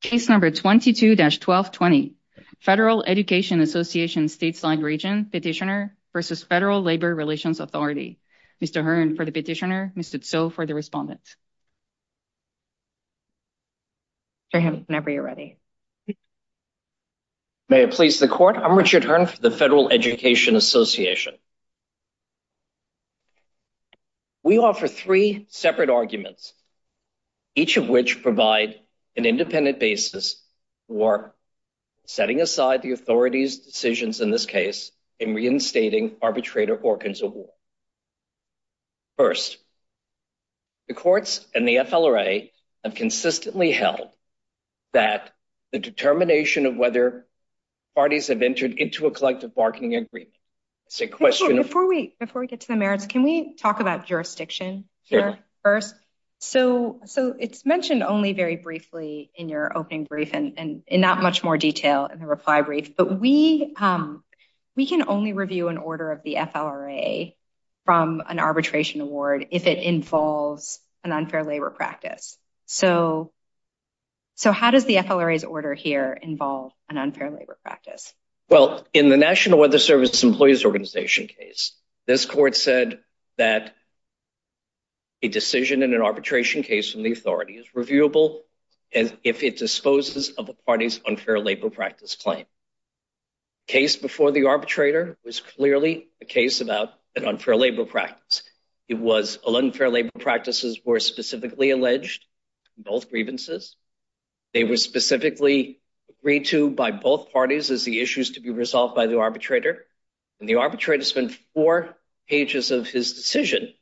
Case number 22-1220, Federal Education Association Stateside Region Petitioner v. Federal Labor Relations Authority. Mr. Hearn for the petitioner, Mr. Tso for the respondent. Go ahead whenever you're ready. May it please the court, I'm Richard Hearn for the Federal Education Association. We offer three separate arguments, each of which provide an independent basis for setting aside the authority's decisions in this case in reinstating arbitrator organs of war. First, the courts and the FLRA have consistently held that the determination of whether parties have entered into a collective bargaining agreement. Before we get to the merits, can we talk about jurisdiction here first? So it's mentioned only very briefly in your opening brief and not much more detail in the reply brief, but we can only review an order of the FLRA from an arbitration award if it involves an unfair labor practice. So how does the FLRA's order here involve an unfair labor practice? Well, in the National Weather Service Employees Organization case, this court said that a decision in an arbitration case from the authority is reviewable if it disposes of a party's unfair labor practice claim. The case before the arbitrator was clearly a case about an unfair practice. Unfair labor practices were specifically alleged in both grievances. They were specifically agreed to by both parties as the issues to be resolved by the arbitrator, and the arbitrator spent four pages of his decision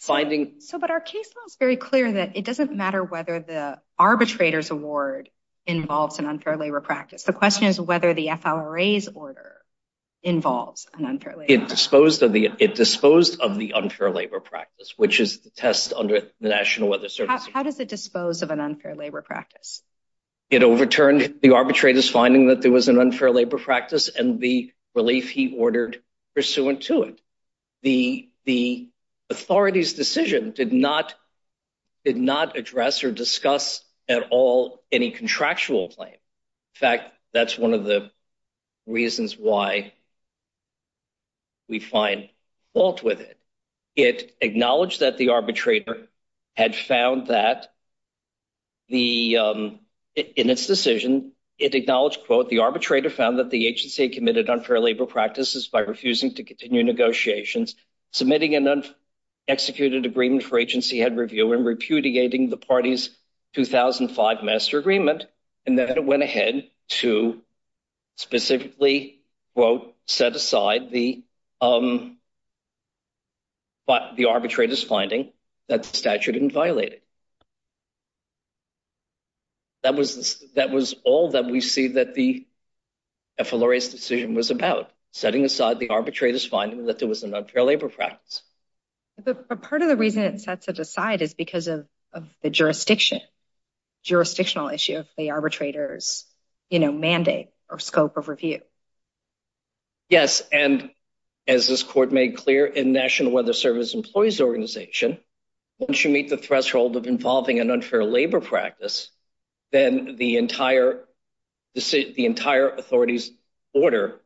finding... So, but our case law is very clear that it doesn't matter whether the arbitrator's award involves an unfair labor practice. The question is whether the FLRA's order involves an unfair labor practice. It disposed of the unfair labor practice, which is the test under the National Weather Service. How does it dispose of an unfair labor practice? It overturned the arbitrator's finding that there was an unfair labor practice and the relief he ordered pursuant to it. The authority's decision did not address or discuss at all any contractual claim. In fact, that's one of the reasons why we find fault with it. It acknowledged that the arbitrator had found that the... In its decision, it acknowledged, quote, the arbitrator found that the agency committed unfair labor practices by refusing to continue negotiations, submitting an unexecuted agreement for agency head review and repudiating the party's 2005 master agreement, and then it went ahead to specifically, quote, set aside the arbitrator's finding that the statute didn't violate it. That was all that we see that the FLRA's decision was about, setting aside the arbitrator's finding that there was an unfair labor practice. But part of the reason it sets it aside is the jurisdictional issue of the arbitrator's mandate or scope of review. Yes, and as this court made clear in National Weather Service Employees Organization, once you meet the threshold of involving an unfair labor practice, then the entire authority's order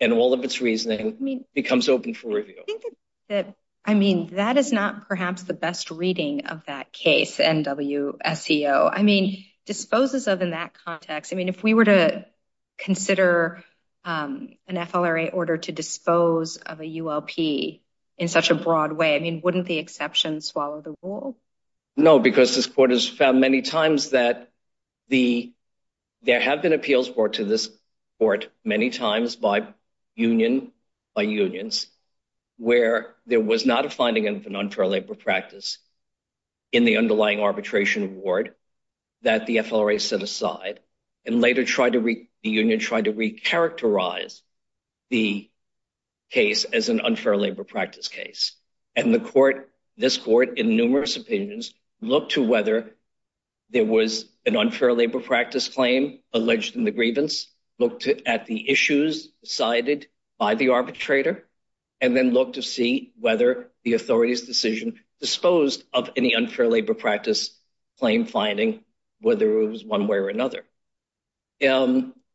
and all of its reasoning becomes open for review. I think that, I mean, that is not perhaps the best reading of that case, NWSEO. I mean, disposes of in that context. I mean, if we were to consider an FLRA order to dispose of a ULP in such a broad way, I mean, wouldn't the exception swallow the rule? No, because this court has found many times that there have been appeals brought to this court many times by union, by unions, where there was not a finding of an unfair labor practice in the underlying arbitration award that the FLRA set aside and later tried to, the union tried to recharacterize the case as an unfair labor practice case. And the court, this court, in numerous opinions, looked to whether there was an unfair labor practice claim alleged in the grievance, looked at the issues decided by the arbitrator, and then looked to see whether the authority's decision disposed of any unfair labor practice claim finding, whether it was one way or another.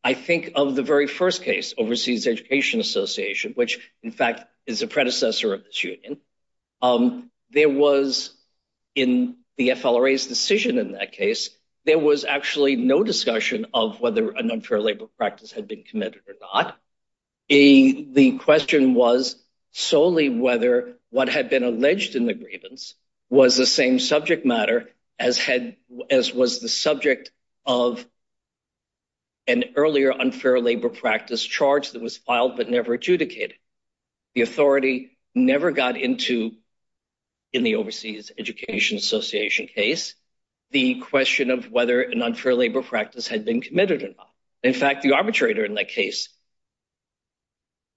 I think of the very first case, Overseas Education Association, which in fact is a predecessor of this union. There was, in the FLRA's decision in that case, there was actually no discussion of whether an unfair labor practice had been committed or not. The question was solely whether what had been alleged in the grievance was the same subject matter as was the subject of an earlier unfair labor practice charge that was filed but never adjudicated. The authority never got into, in the Overseas Education Association case, the question of whether an unfair labor practice had been committed or not. In fact, the arbitrator in that case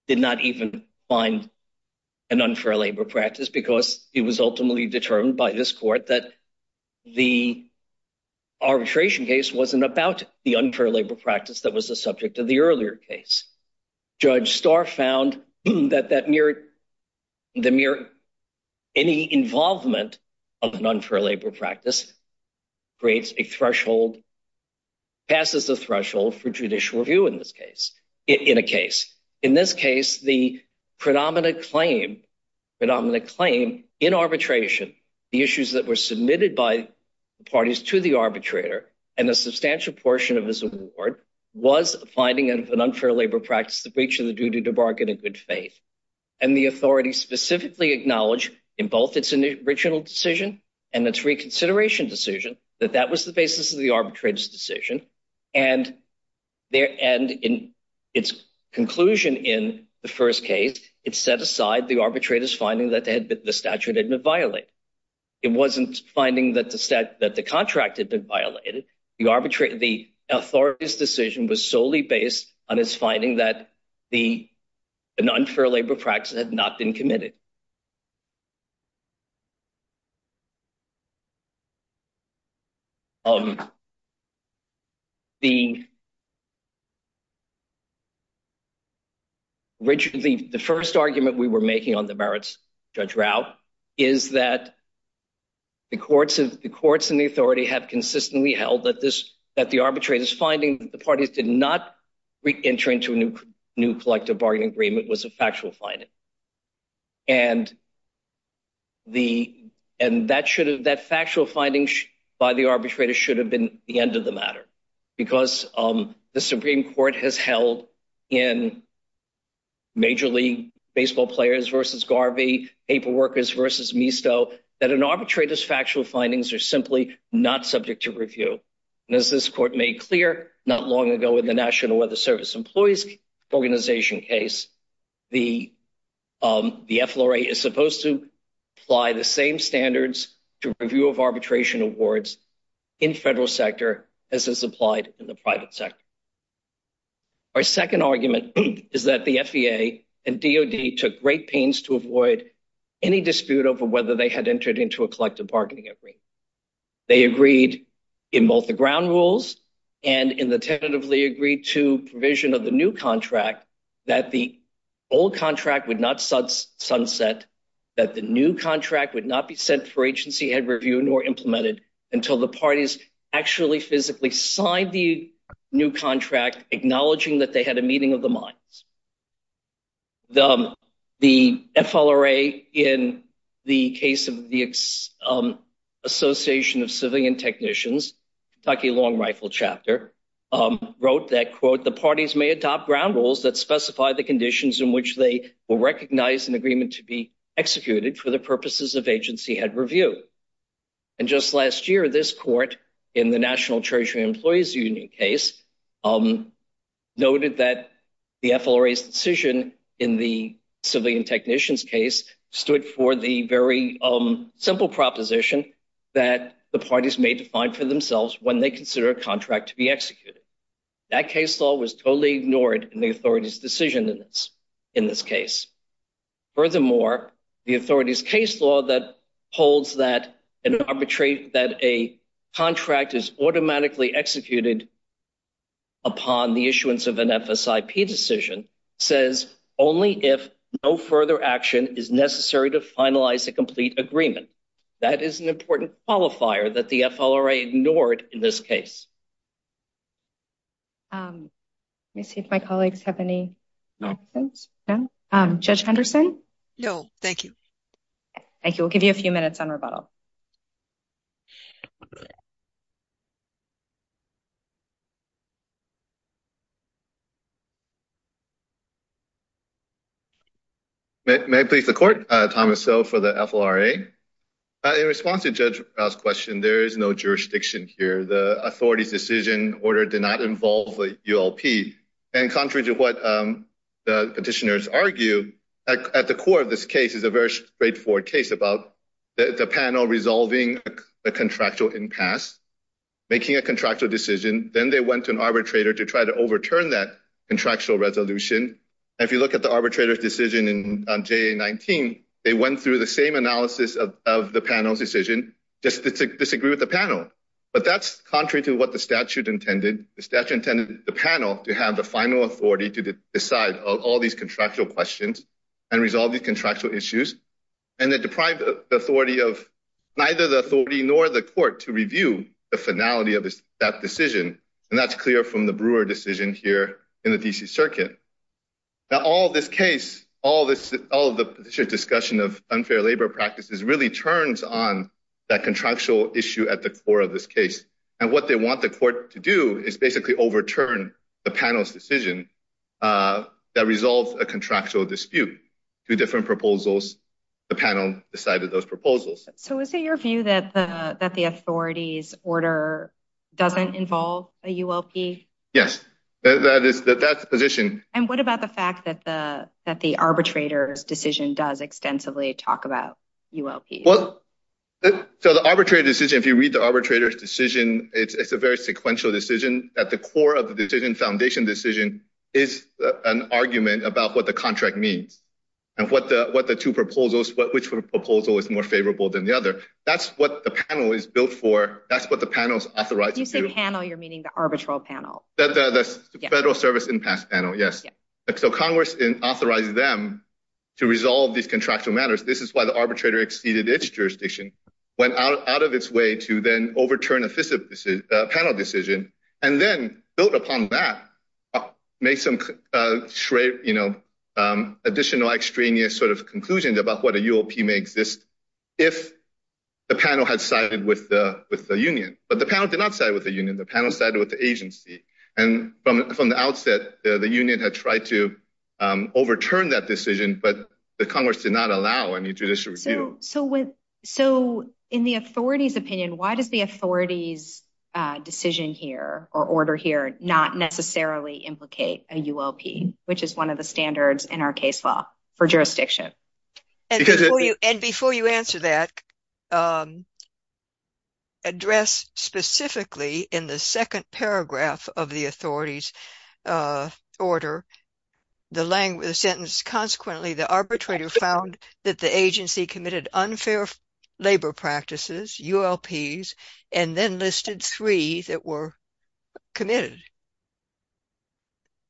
did not even find an unfair labor practice because it was ultimately determined by this court that the arbitration case wasn't about the that that mere, the mere, any involvement of an unfair labor practice creates a threshold, passes the threshold for judicial review in this case, in a case. In this case, the predominant claim, predominant claim in arbitration, the issues that were submitted by the parties to the arbitrator and a substantial portion of his award was a finding of an unfair labor practice, the breach of the duty to bargain in good faith. And the authority specifically acknowledged in both its original decision and its reconsideration decision that that was the basis of the arbitrator's decision. And in its conclusion in the first case, it set aside the arbitrator's finding that the statute had been violated. It wasn't finding that the statute, that the contract had been violated. The arbitrator, the authority's decision was solely based on his finding that the an unfair labor practice had not been committed. Um, the original, the first argument we were making on the merits, Judge Rao, is that the courts have, the courts and the authority have consistently held that this, that the arbitrator's finding that the parties did not re-enter into a new, new collective bargaining agreement was a factual finding. And the, and that should have, that factual finding by the arbitrator should have been the end of the matter. Because, um, the Supreme Court has held in major league baseball players versus Garvey, paper workers versus Misto, that an arbitrator's factual findings are simply not subject to review. And as this court made clear not long ago in the National Weather Service Employees Organization case, the, um, the FLRA is supposed to apply the same standards to review of arbitration awards in federal sector as is applied in the private sector. Our second argument is that the FEA and DOD took great pains to avoid any dispute over whether they had entered into a collective bargaining agreement. They agreed in both the ground rules and in the tentatively agreed to provision of the new contract that the old agency had reviewed or implemented until the parties actually physically signed the new contract, acknowledging that they had a meeting of the minds. The, the FLRA in the case of the Association of Civilian Technicians, Kentucky Long Rifle Chapter, um, wrote that, quote, the parties may adopt ground rules that specify the conditions in which they will recognize an review. And just last year, this court in the National Treasury Employees Union case, um, noted that the FLRA's decision in the civilian technicians case stood for the very, um, simple proposition that the parties may define for themselves when they consider a contract to be executed. That case law was totally ignored in the authority's decision in this, in this case. Furthermore, the authority's case law that holds that an arbitrary, that a contract is automatically executed upon the issuance of an FSIP decision says only if no further action is necessary to finalize a complete agreement. That is an important qualifier that the FLRA ignored in this case. Um, let me see if my colleagues have any questions. No. Um, Judge Henderson? No, thank you. Thank you. We'll give you a few minutes on rebuttal. May I please the court? Uh, Thomas So for the FLRA. Uh, in response to Judge Rao's question, there is no jurisdiction here. The authority's decision order did not involve the ULP. And contrary to what, um, the petitioners argue at the core of this case is a very straightforward case about the panel resolving a contractual impasse, making a contractual decision. Then they went to an arbitrator to try to overturn that contractual resolution. If you look at the arbitrator's decision in, um, JA-19, they went through the same analysis of, of the panel's just to disagree with the panel. But that's contrary to what the statute intended. The statute intended the panel to have the final authority to decide all these contractual questions and resolve these contractual issues. And they deprived the authority of neither the authority nor the court to review the finality of that decision. And that's clear from the Brewer decision here in the DC circuit. Now, all this case, all this, all of the discussion of unfair labor practices really turns on that contractual issue at the core of this case. And what they want the court to do is basically overturn the panel's decision, uh, that resolves a contractual dispute to different proposals. The panel decided those proposals. So is it your view that the, that the authority's order doesn't involve a ULP? Yes, that is the position. And what about the fact that the, that the arbitrator's decision does extensively talk about ULP? Well, so the arbitrary decision, if you read the arbitrator's decision, it's, it's a very sequential decision at the core of the decision foundation decision is an argument about what the contract means and what the, what the two proposals, what, which proposal is more favorable than the other. That's what the panel is built for. That's what the panel's authorized. You say so Congress authorizes them to resolve these contractual matters. This is why the arbitrator exceeded its jurisdiction, went out of its way to then overturn a fiscal decision, a panel decision, and then built upon that, make some, uh, straight, you know, um, additional extraneous sort of conclusion about what a ULP may exist. If the panel had sided with the, with the union, but the panel did not side with the union, the panel sided with the agency. And from, from the outset, the union had tried to, um, overturn that decision, but the Congress did not allow any judicial review. So with, so in the authority's opinion, why does the authority's, uh, decision here or order here not necessarily implicate a ULP, which is one of the standards in our case law for jurisdiction? And before you answer that, um, address specifically in the second paragraph of the order, the language sentence, consequently, the arbitrator found that the agency committed unfair labor practices, ULPs, and then listed three that were committed.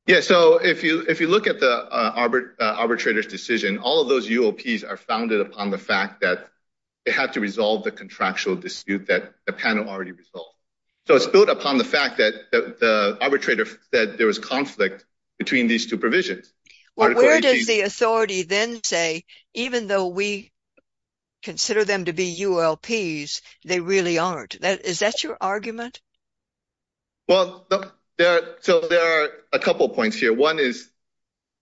Yeah, so if you, if you look at the, uh, arbitrator's decision, all of those ULPs are founded upon the fact that they had to resolve the contractual dispute that the panel already resolved. So it's built upon the fact that the arbitrator said there was conflict between these two provisions. Well, where does the authority then say, even though we consider them to be ULPs, they really aren't that, is that your argument? Well, there, so there are a couple of points here. One is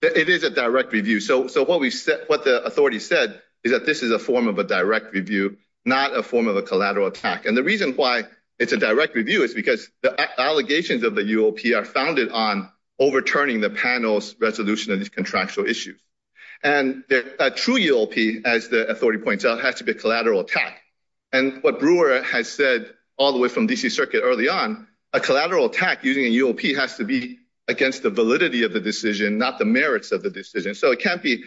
that it is a direct review. So, so what we said, what the authority said is that this is a form of a direct review, not a form of a collateral attack. And the reason why it's a direct review is because the allegations of the ULP are founded on overturning the panel's resolution of this contractual issue. And a true ULP, as the authority points out, has to be a collateral attack. And what Brewer has said all the way from D.C. Circuit early on, a collateral attack using a ULP has to be against the validity of the decision, not the merits of the decision. So it can't be,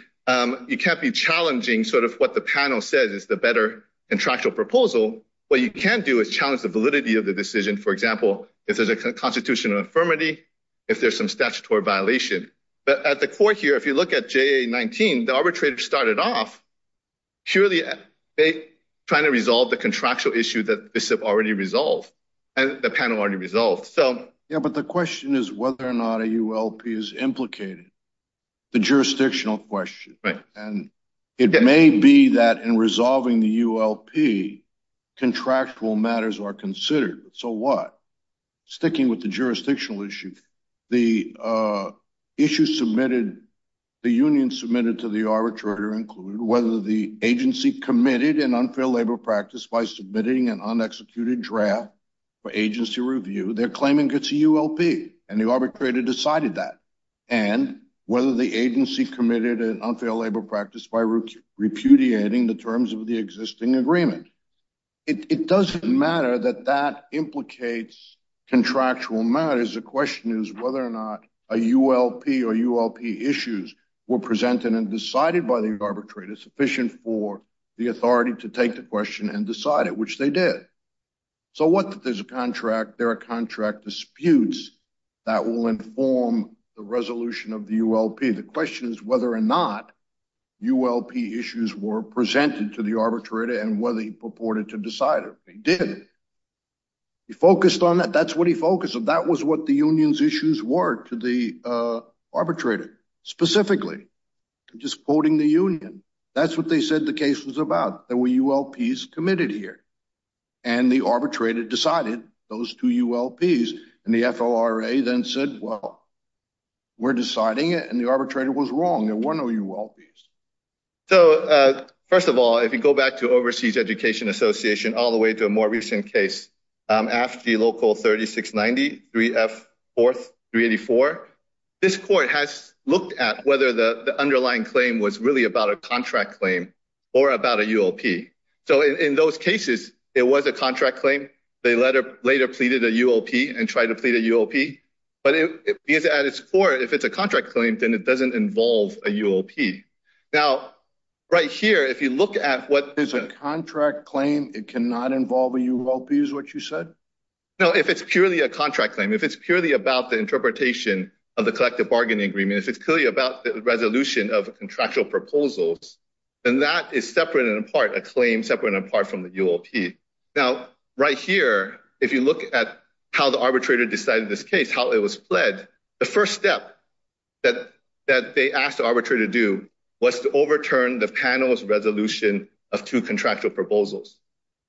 you can't be challenging sort of what the panel says is the better contractual proposal. What you can do is challenge the validity of the decision. For example, if there's a constitutional infirmity, if there's some statutory violation. But at the court here, if you look at JA-19, the arbitrator started off purely trying to resolve the contractual issue that this have already resolved and the panel already resolved. So, yeah, but the question is whether or not a ULP is implicated, the jurisdictional question. And it may be that in resolving the ULP, contractual matters are considered. So what? Sticking with the jurisdictional issue, the issue submitted, the union submitted to the arbitrator included whether the agency committed an unfair labor practice by submitting an unexecuted draft for agency review, they're claiming it's a ULP and the arbitrator decided that. And whether the agency committed an unfair labor practice by repudiating the terms of the existing agreement. It doesn't matter that that implicates contractual matters. The question is whether or not a ULP or ULP issues were presented and decided by the arbitrator sufficient for the authority to take the question and decide it, which they did. So what if there's a contract? There are contract disputes that will inform the resolution of the ULP. The question is whether or not ULP issues were presented to the arbitrator and whether he purported to decide it. He did. He focused on that. That's what he focused on. That was what the union's issues were to the arbitrator, specifically just quoting the union. That's what they said the case was about. There were ULPs committed here, and the arbitrator decided those two ULPs. And the FLRA then said, well, we're deciding it, and the arbitrator was wrong. There were no ULPs. So, first of all, if you go back to Overseas Education Association, all the way to a more recent case after the local 3690 3F 4384, this court has looked at whether the underlying claim was really about a contract claim or about a ULP. So, in those cases, it was a contract claim. They later pleaded a ULP and tried to plead a ULP. But at its core, if it's a contract claim, then it doesn't involve a ULP. Now, right here, if you look at what is a contract claim, it cannot involve a ULP, is what you said? No, if it's purely a contract claim, if it's purely about the interpretation of the collective bargaining agreement, if it's clearly about the resolution of contractual proposals, then that is separate and apart, a claim separate and apart from the ULP. Now, right here, if you look at how the arbitrator decided this case, how it was pled, the first step that they asked the arbitrator to do was to overturn the panel's resolution of two contractual proposals.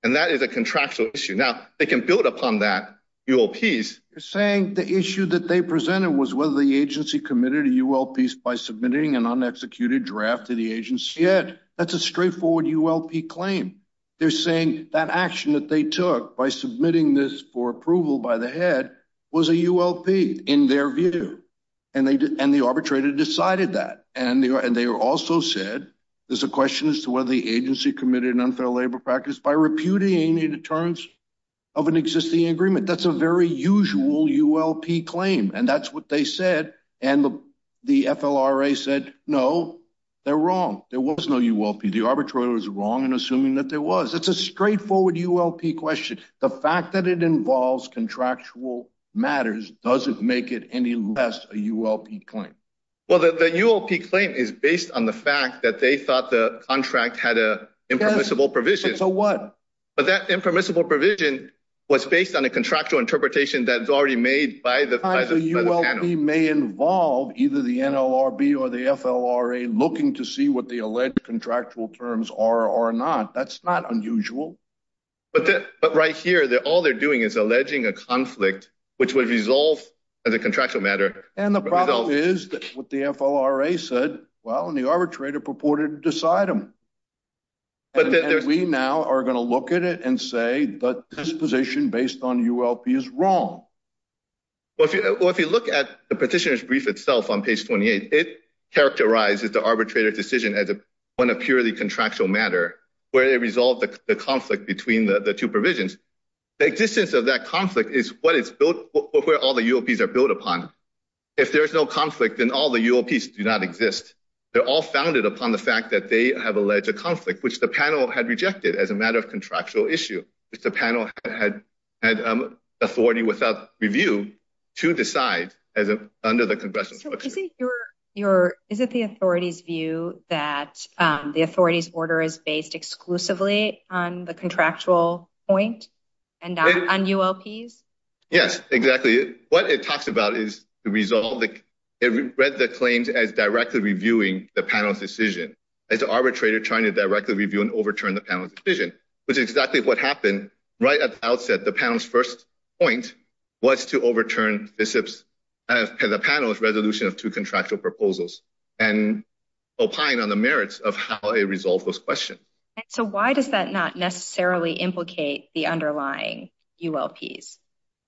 And that is a contractual issue. Now, they can build upon that ULPs. They're saying the issue that they presented was whether the agency committed a ULP by submitting an unexecuted draft to the agency. That's a straightforward ULP claim. They're saying that action that they took by submitting this for approval by the head was a ULP in their view. And the arbitrator decided that. And they also said, there's a agency committed an unfair labor practice by repudiating the terms of an existing agreement. That's a very usual ULP claim. And that's what they said. And the FLRA said, no, they're wrong. There was no ULP. The arbitrator was wrong in assuming that there was. It's a straightforward ULP question. The fact that it involves contractual matters doesn't make it any less a ULP claim. Well, the ULP claim is based on the fact that they thought the contract had a impermissible provision. So what? But that impermissible provision was based on a contractual interpretation that is already made by the panel. The ULP may involve either the NLRB or the FLRA looking to see what the alleged contractual terms are or not. That's not unusual. But right here, all they're doing is alleging a conflict, which would resolve as a contractual matter. And the problem is that what the FLRA said, well, and the arbitrator purported to decide them. But we now are going to look at it and say that this position based on ULP is wrong. Well, if you look at the petitioner's brief itself on page 28, it characterizes the arbitrator decision as one of purely contractual matter, where they resolve the conflict between the two provisions. The existence of that conflict is what it's built for, where all the ULPs are built upon. If there is no conflict, then all the ULPs do not exist. They're all founded upon the fact that they have alleged a conflict, which the panel had rejected as a matter of contractual issue, which the panel had authority without review to decide under the congressional. Is it the authority's view that the authority's order is based exclusively on the contractual point and not on ULPs? Yes, exactly. What it talks about is the result. It read the claims as directly reviewing the panel's decision. It's the arbitrator trying to directly review and overturn the panel's decision, which is exactly what happened right at the outset. The panel's first point was to overturn the panel's resolution of two contractual proposals and opine on the merits of how it resolved those questions. So why does that not necessarily implicate the underlying ULPs?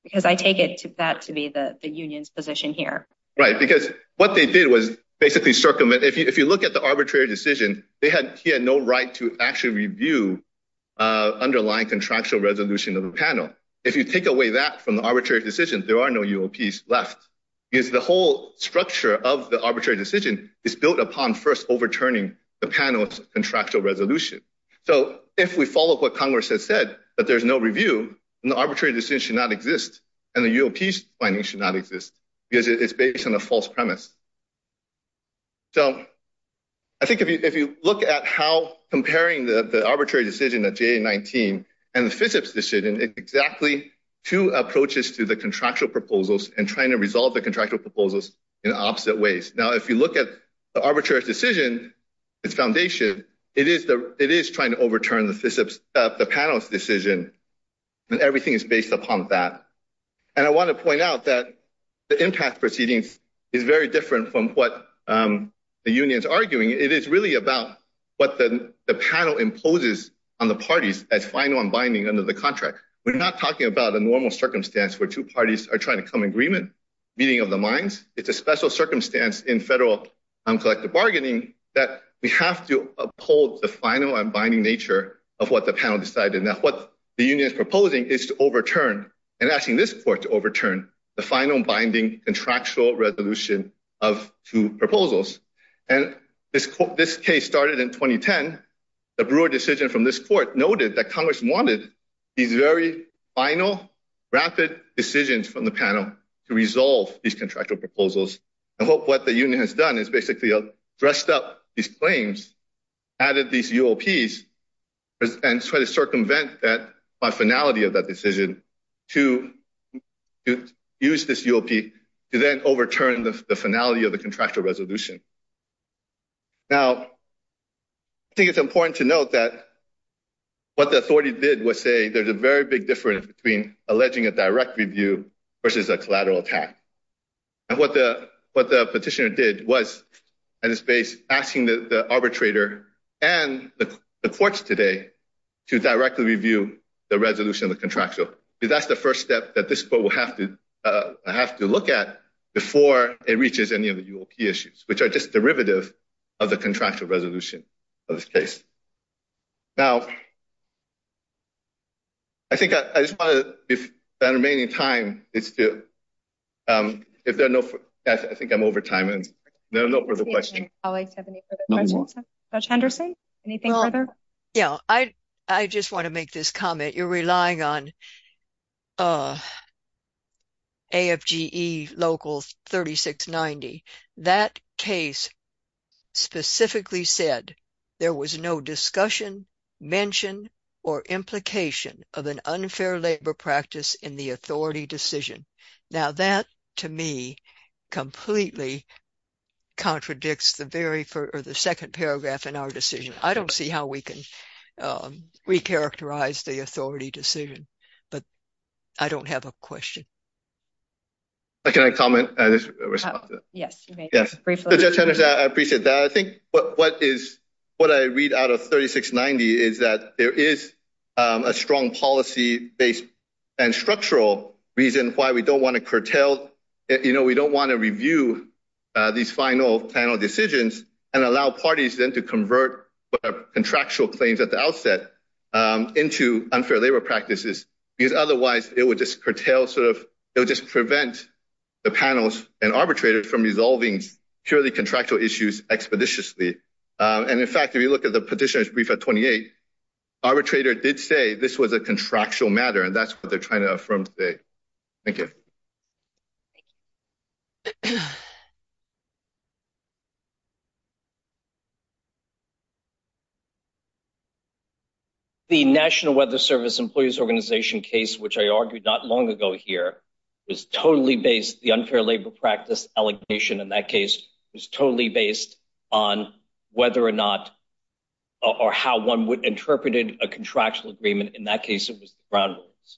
Because I take that to be the union's position here. Right, because what they did was basically circumvent. If you look at the arbitrary decision, he had no right to actually review the underlying contractual resolution of the panel. If you take away that from the arbitrary decision, there are no ULPs left, because the whole structure of the arbitrary decision is built upon first overturning the panel's contractual resolution. So if we follow what Congress has said, that there's no review, the arbitrary decision should not exist, and the ULP's finding should not exist, because it's based on a false premise. So I think if you look at how comparing the arbitrary decision at JA-19 and the FISP's decision, it's exactly two approaches to the contractual proposals and trying to resolve the contractual proposals in opposite ways. Now, if you look at the arbitrary decision, its foundation, it is trying to overturn the panel's decision, and everything is based upon that. And I want to point out that the impasse proceedings is very different from what the union's arguing. It is really about what the panel imposes on the parties as final and binding under the contract. We're not talking about a normal circumstance where two parties are trying to come meeting of the minds. It's a special circumstance in federal uncollected bargaining that we have to uphold the final and binding nature of what the panel decided. Now, what the union is proposing is to overturn and asking this court to overturn the final binding contractual resolution of two proposals. And this case started in 2010. The Brewer decision from this court noted that Congress wanted these very final, rapid decisions from the panel to resolve these contractual proposals. I hope what the union has done is basically dressed up these claims, added these UOPs, and try to circumvent that by finality of that decision to use this UOP to then overturn the finality of the contractual resolution. Now, I think it's important to note that what the authority did was say there's a very big difference between alleging a direct review versus a collateral attack. And what the petitioner did was, at its base, asking the arbitrator and the courts today to directly review the resolution of the contractual. That's the first step that this court will have to look at before it reaches any of the UOP issues, which are just Now, I think I just want to, if there's any remaining time, it's due. I think I'm over time, and there are no further questions. Colleagues have any further questions? Judge Henderson, anything further? Yeah, I just want to make this comment. You're relying on mention or implication of an unfair labor practice in the authority decision. Now, that, to me, completely contradicts the second paragraph in our decision. I don't see how we can recharacterize the authority decision, but I don't have a question. Can I comment? Yes, you may. Judge Henderson, I appreciate that. I think what I read out of 3690 is that there is a strong policy-based and structural reason why we don't want to curtail, we don't want to review these final panel decisions and allow parties then to convert contractual claims at the outset into unfair labor practices, because otherwise it would curtail, it would just prevent the panels and arbitrators from resolving purely contractual issues expeditiously. And in fact, if you look at the petitioner's brief at 28, arbitrator did say this was a contractual matter, and that's what they're trying to affirm today. Thank you. The National Weather Service Employees Organization case, which I argued not long ago here, was totally based, the unfair labor practice allegation in that case, was totally based on whether or not, or how one would interpret a contractual agreement. In that case, it was the ground rules.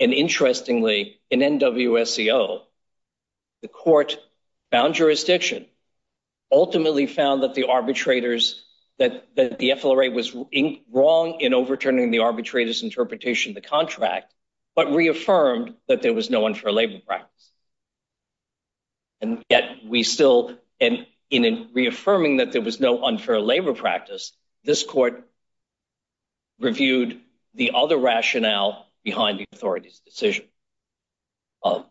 And interestingly, in NWO's case, it was the ground rules, and it was the NWSEO. The court found jurisdiction, ultimately found that the arbitrators, that the FLRA was wrong in overturning the arbitrator's interpretation of the contract, but reaffirmed that there was no unfair labor practice. And yet we still, and in reaffirming that there was no unfair labor practice, this court reviewed the other rationale behind the authority's decision. Well,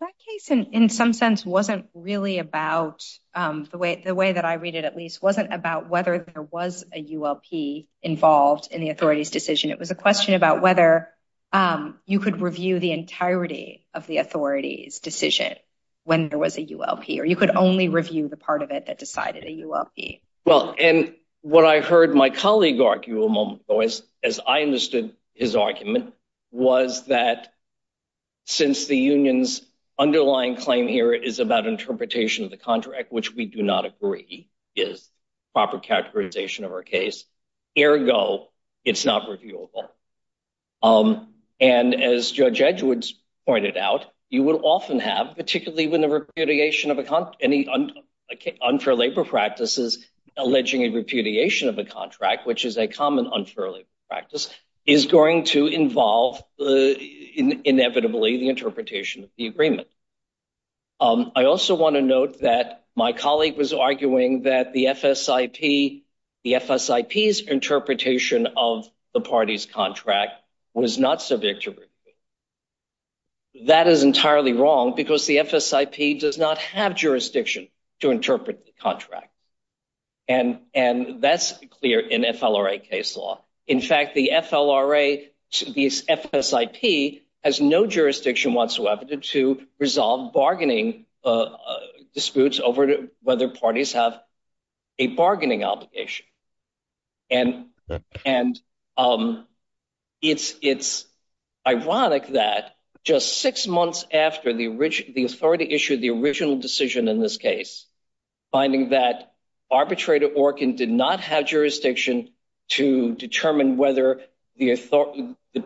that case, in some sense, wasn't really about, the way that I read it, at least, wasn't about whether there was a ULP involved in the authority's decision. It was a question about whether you could review the entirety of the authority's decision when there was a ULP, or you could only review the part of it that decided a ULP. Well, and what I heard my colleague argue a moment ago, as I understood his argument, was that, since the union's underlying claim here is about interpretation of the contract, which we do not agree is proper characterization of our case, ergo, it's not reviewable. And as Judge Edwards pointed out, you will often have, particularly when the repudiation of any unfair labor practices, alleging a repudiation of a contract, which is a common unfair labor practice, is going to involve, inevitably, the interpretation of the agreement. I also want to note that my colleague was arguing that the FSIP's interpretation of the party's contract was not subject to review. That is entirely wrong, because the FSIP does not have jurisdiction to interpret the contract. And that's clear in FLRA case law. In fact, the FLRA, the FSIP, has no jurisdiction whatsoever to resolve bargaining disputes over whether parties have a bargaining obligation. And it's ironic that just six months after the authority issued the original decision in this case, finding that arbitrator Orkin did not have jurisdiction to determine whether the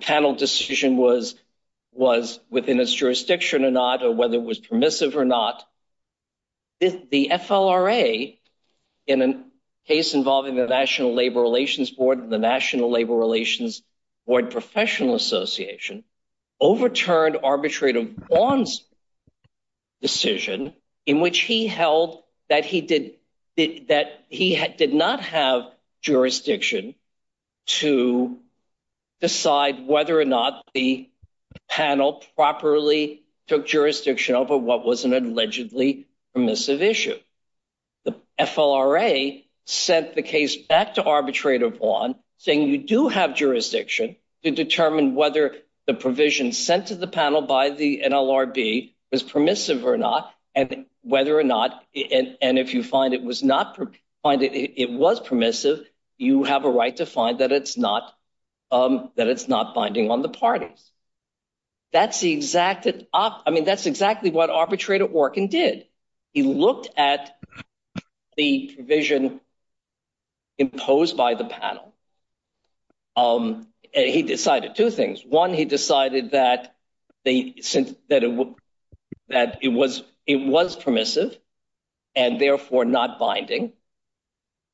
panel decision was within its jurisdiction or not, or whether it was in a case involving the National Labor Relations Board and the National Labor Relations Board Professional Association, overturned arbitrator Vaughn's decision in which he held that he did not have jurisdiction to decide whether or not the panel properly took jurisdiction over what was an allegedly permissive issue. The FLRA sent the case back to arbitrator Vaughn saying you do have jurisdiction to determine whether the provision sent to the panel by the NLRB was permissive or not, and whether or not, and if you find it was not, find it was permissive, you have a right to find that it's not, that it's not binding on the parties. That's exactly what arbitrator Orkin did. He looked at the provision imposed by the panel. He decided two things. One, he decided that it was permissive and therefore not binding.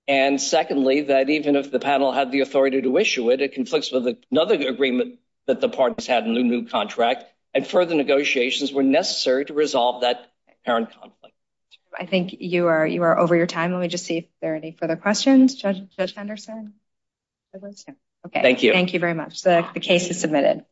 And secondly, that even if the panel had the authority to issue it, it conflicts with another agreement that the parties had in the new contract, and further negotiations were necessary to resolve that apparent conflict. I think you are over your time. Let me just see if there are any further questions, Judge Henderson. Okay, thank you. Thank you very much. The case is submitted.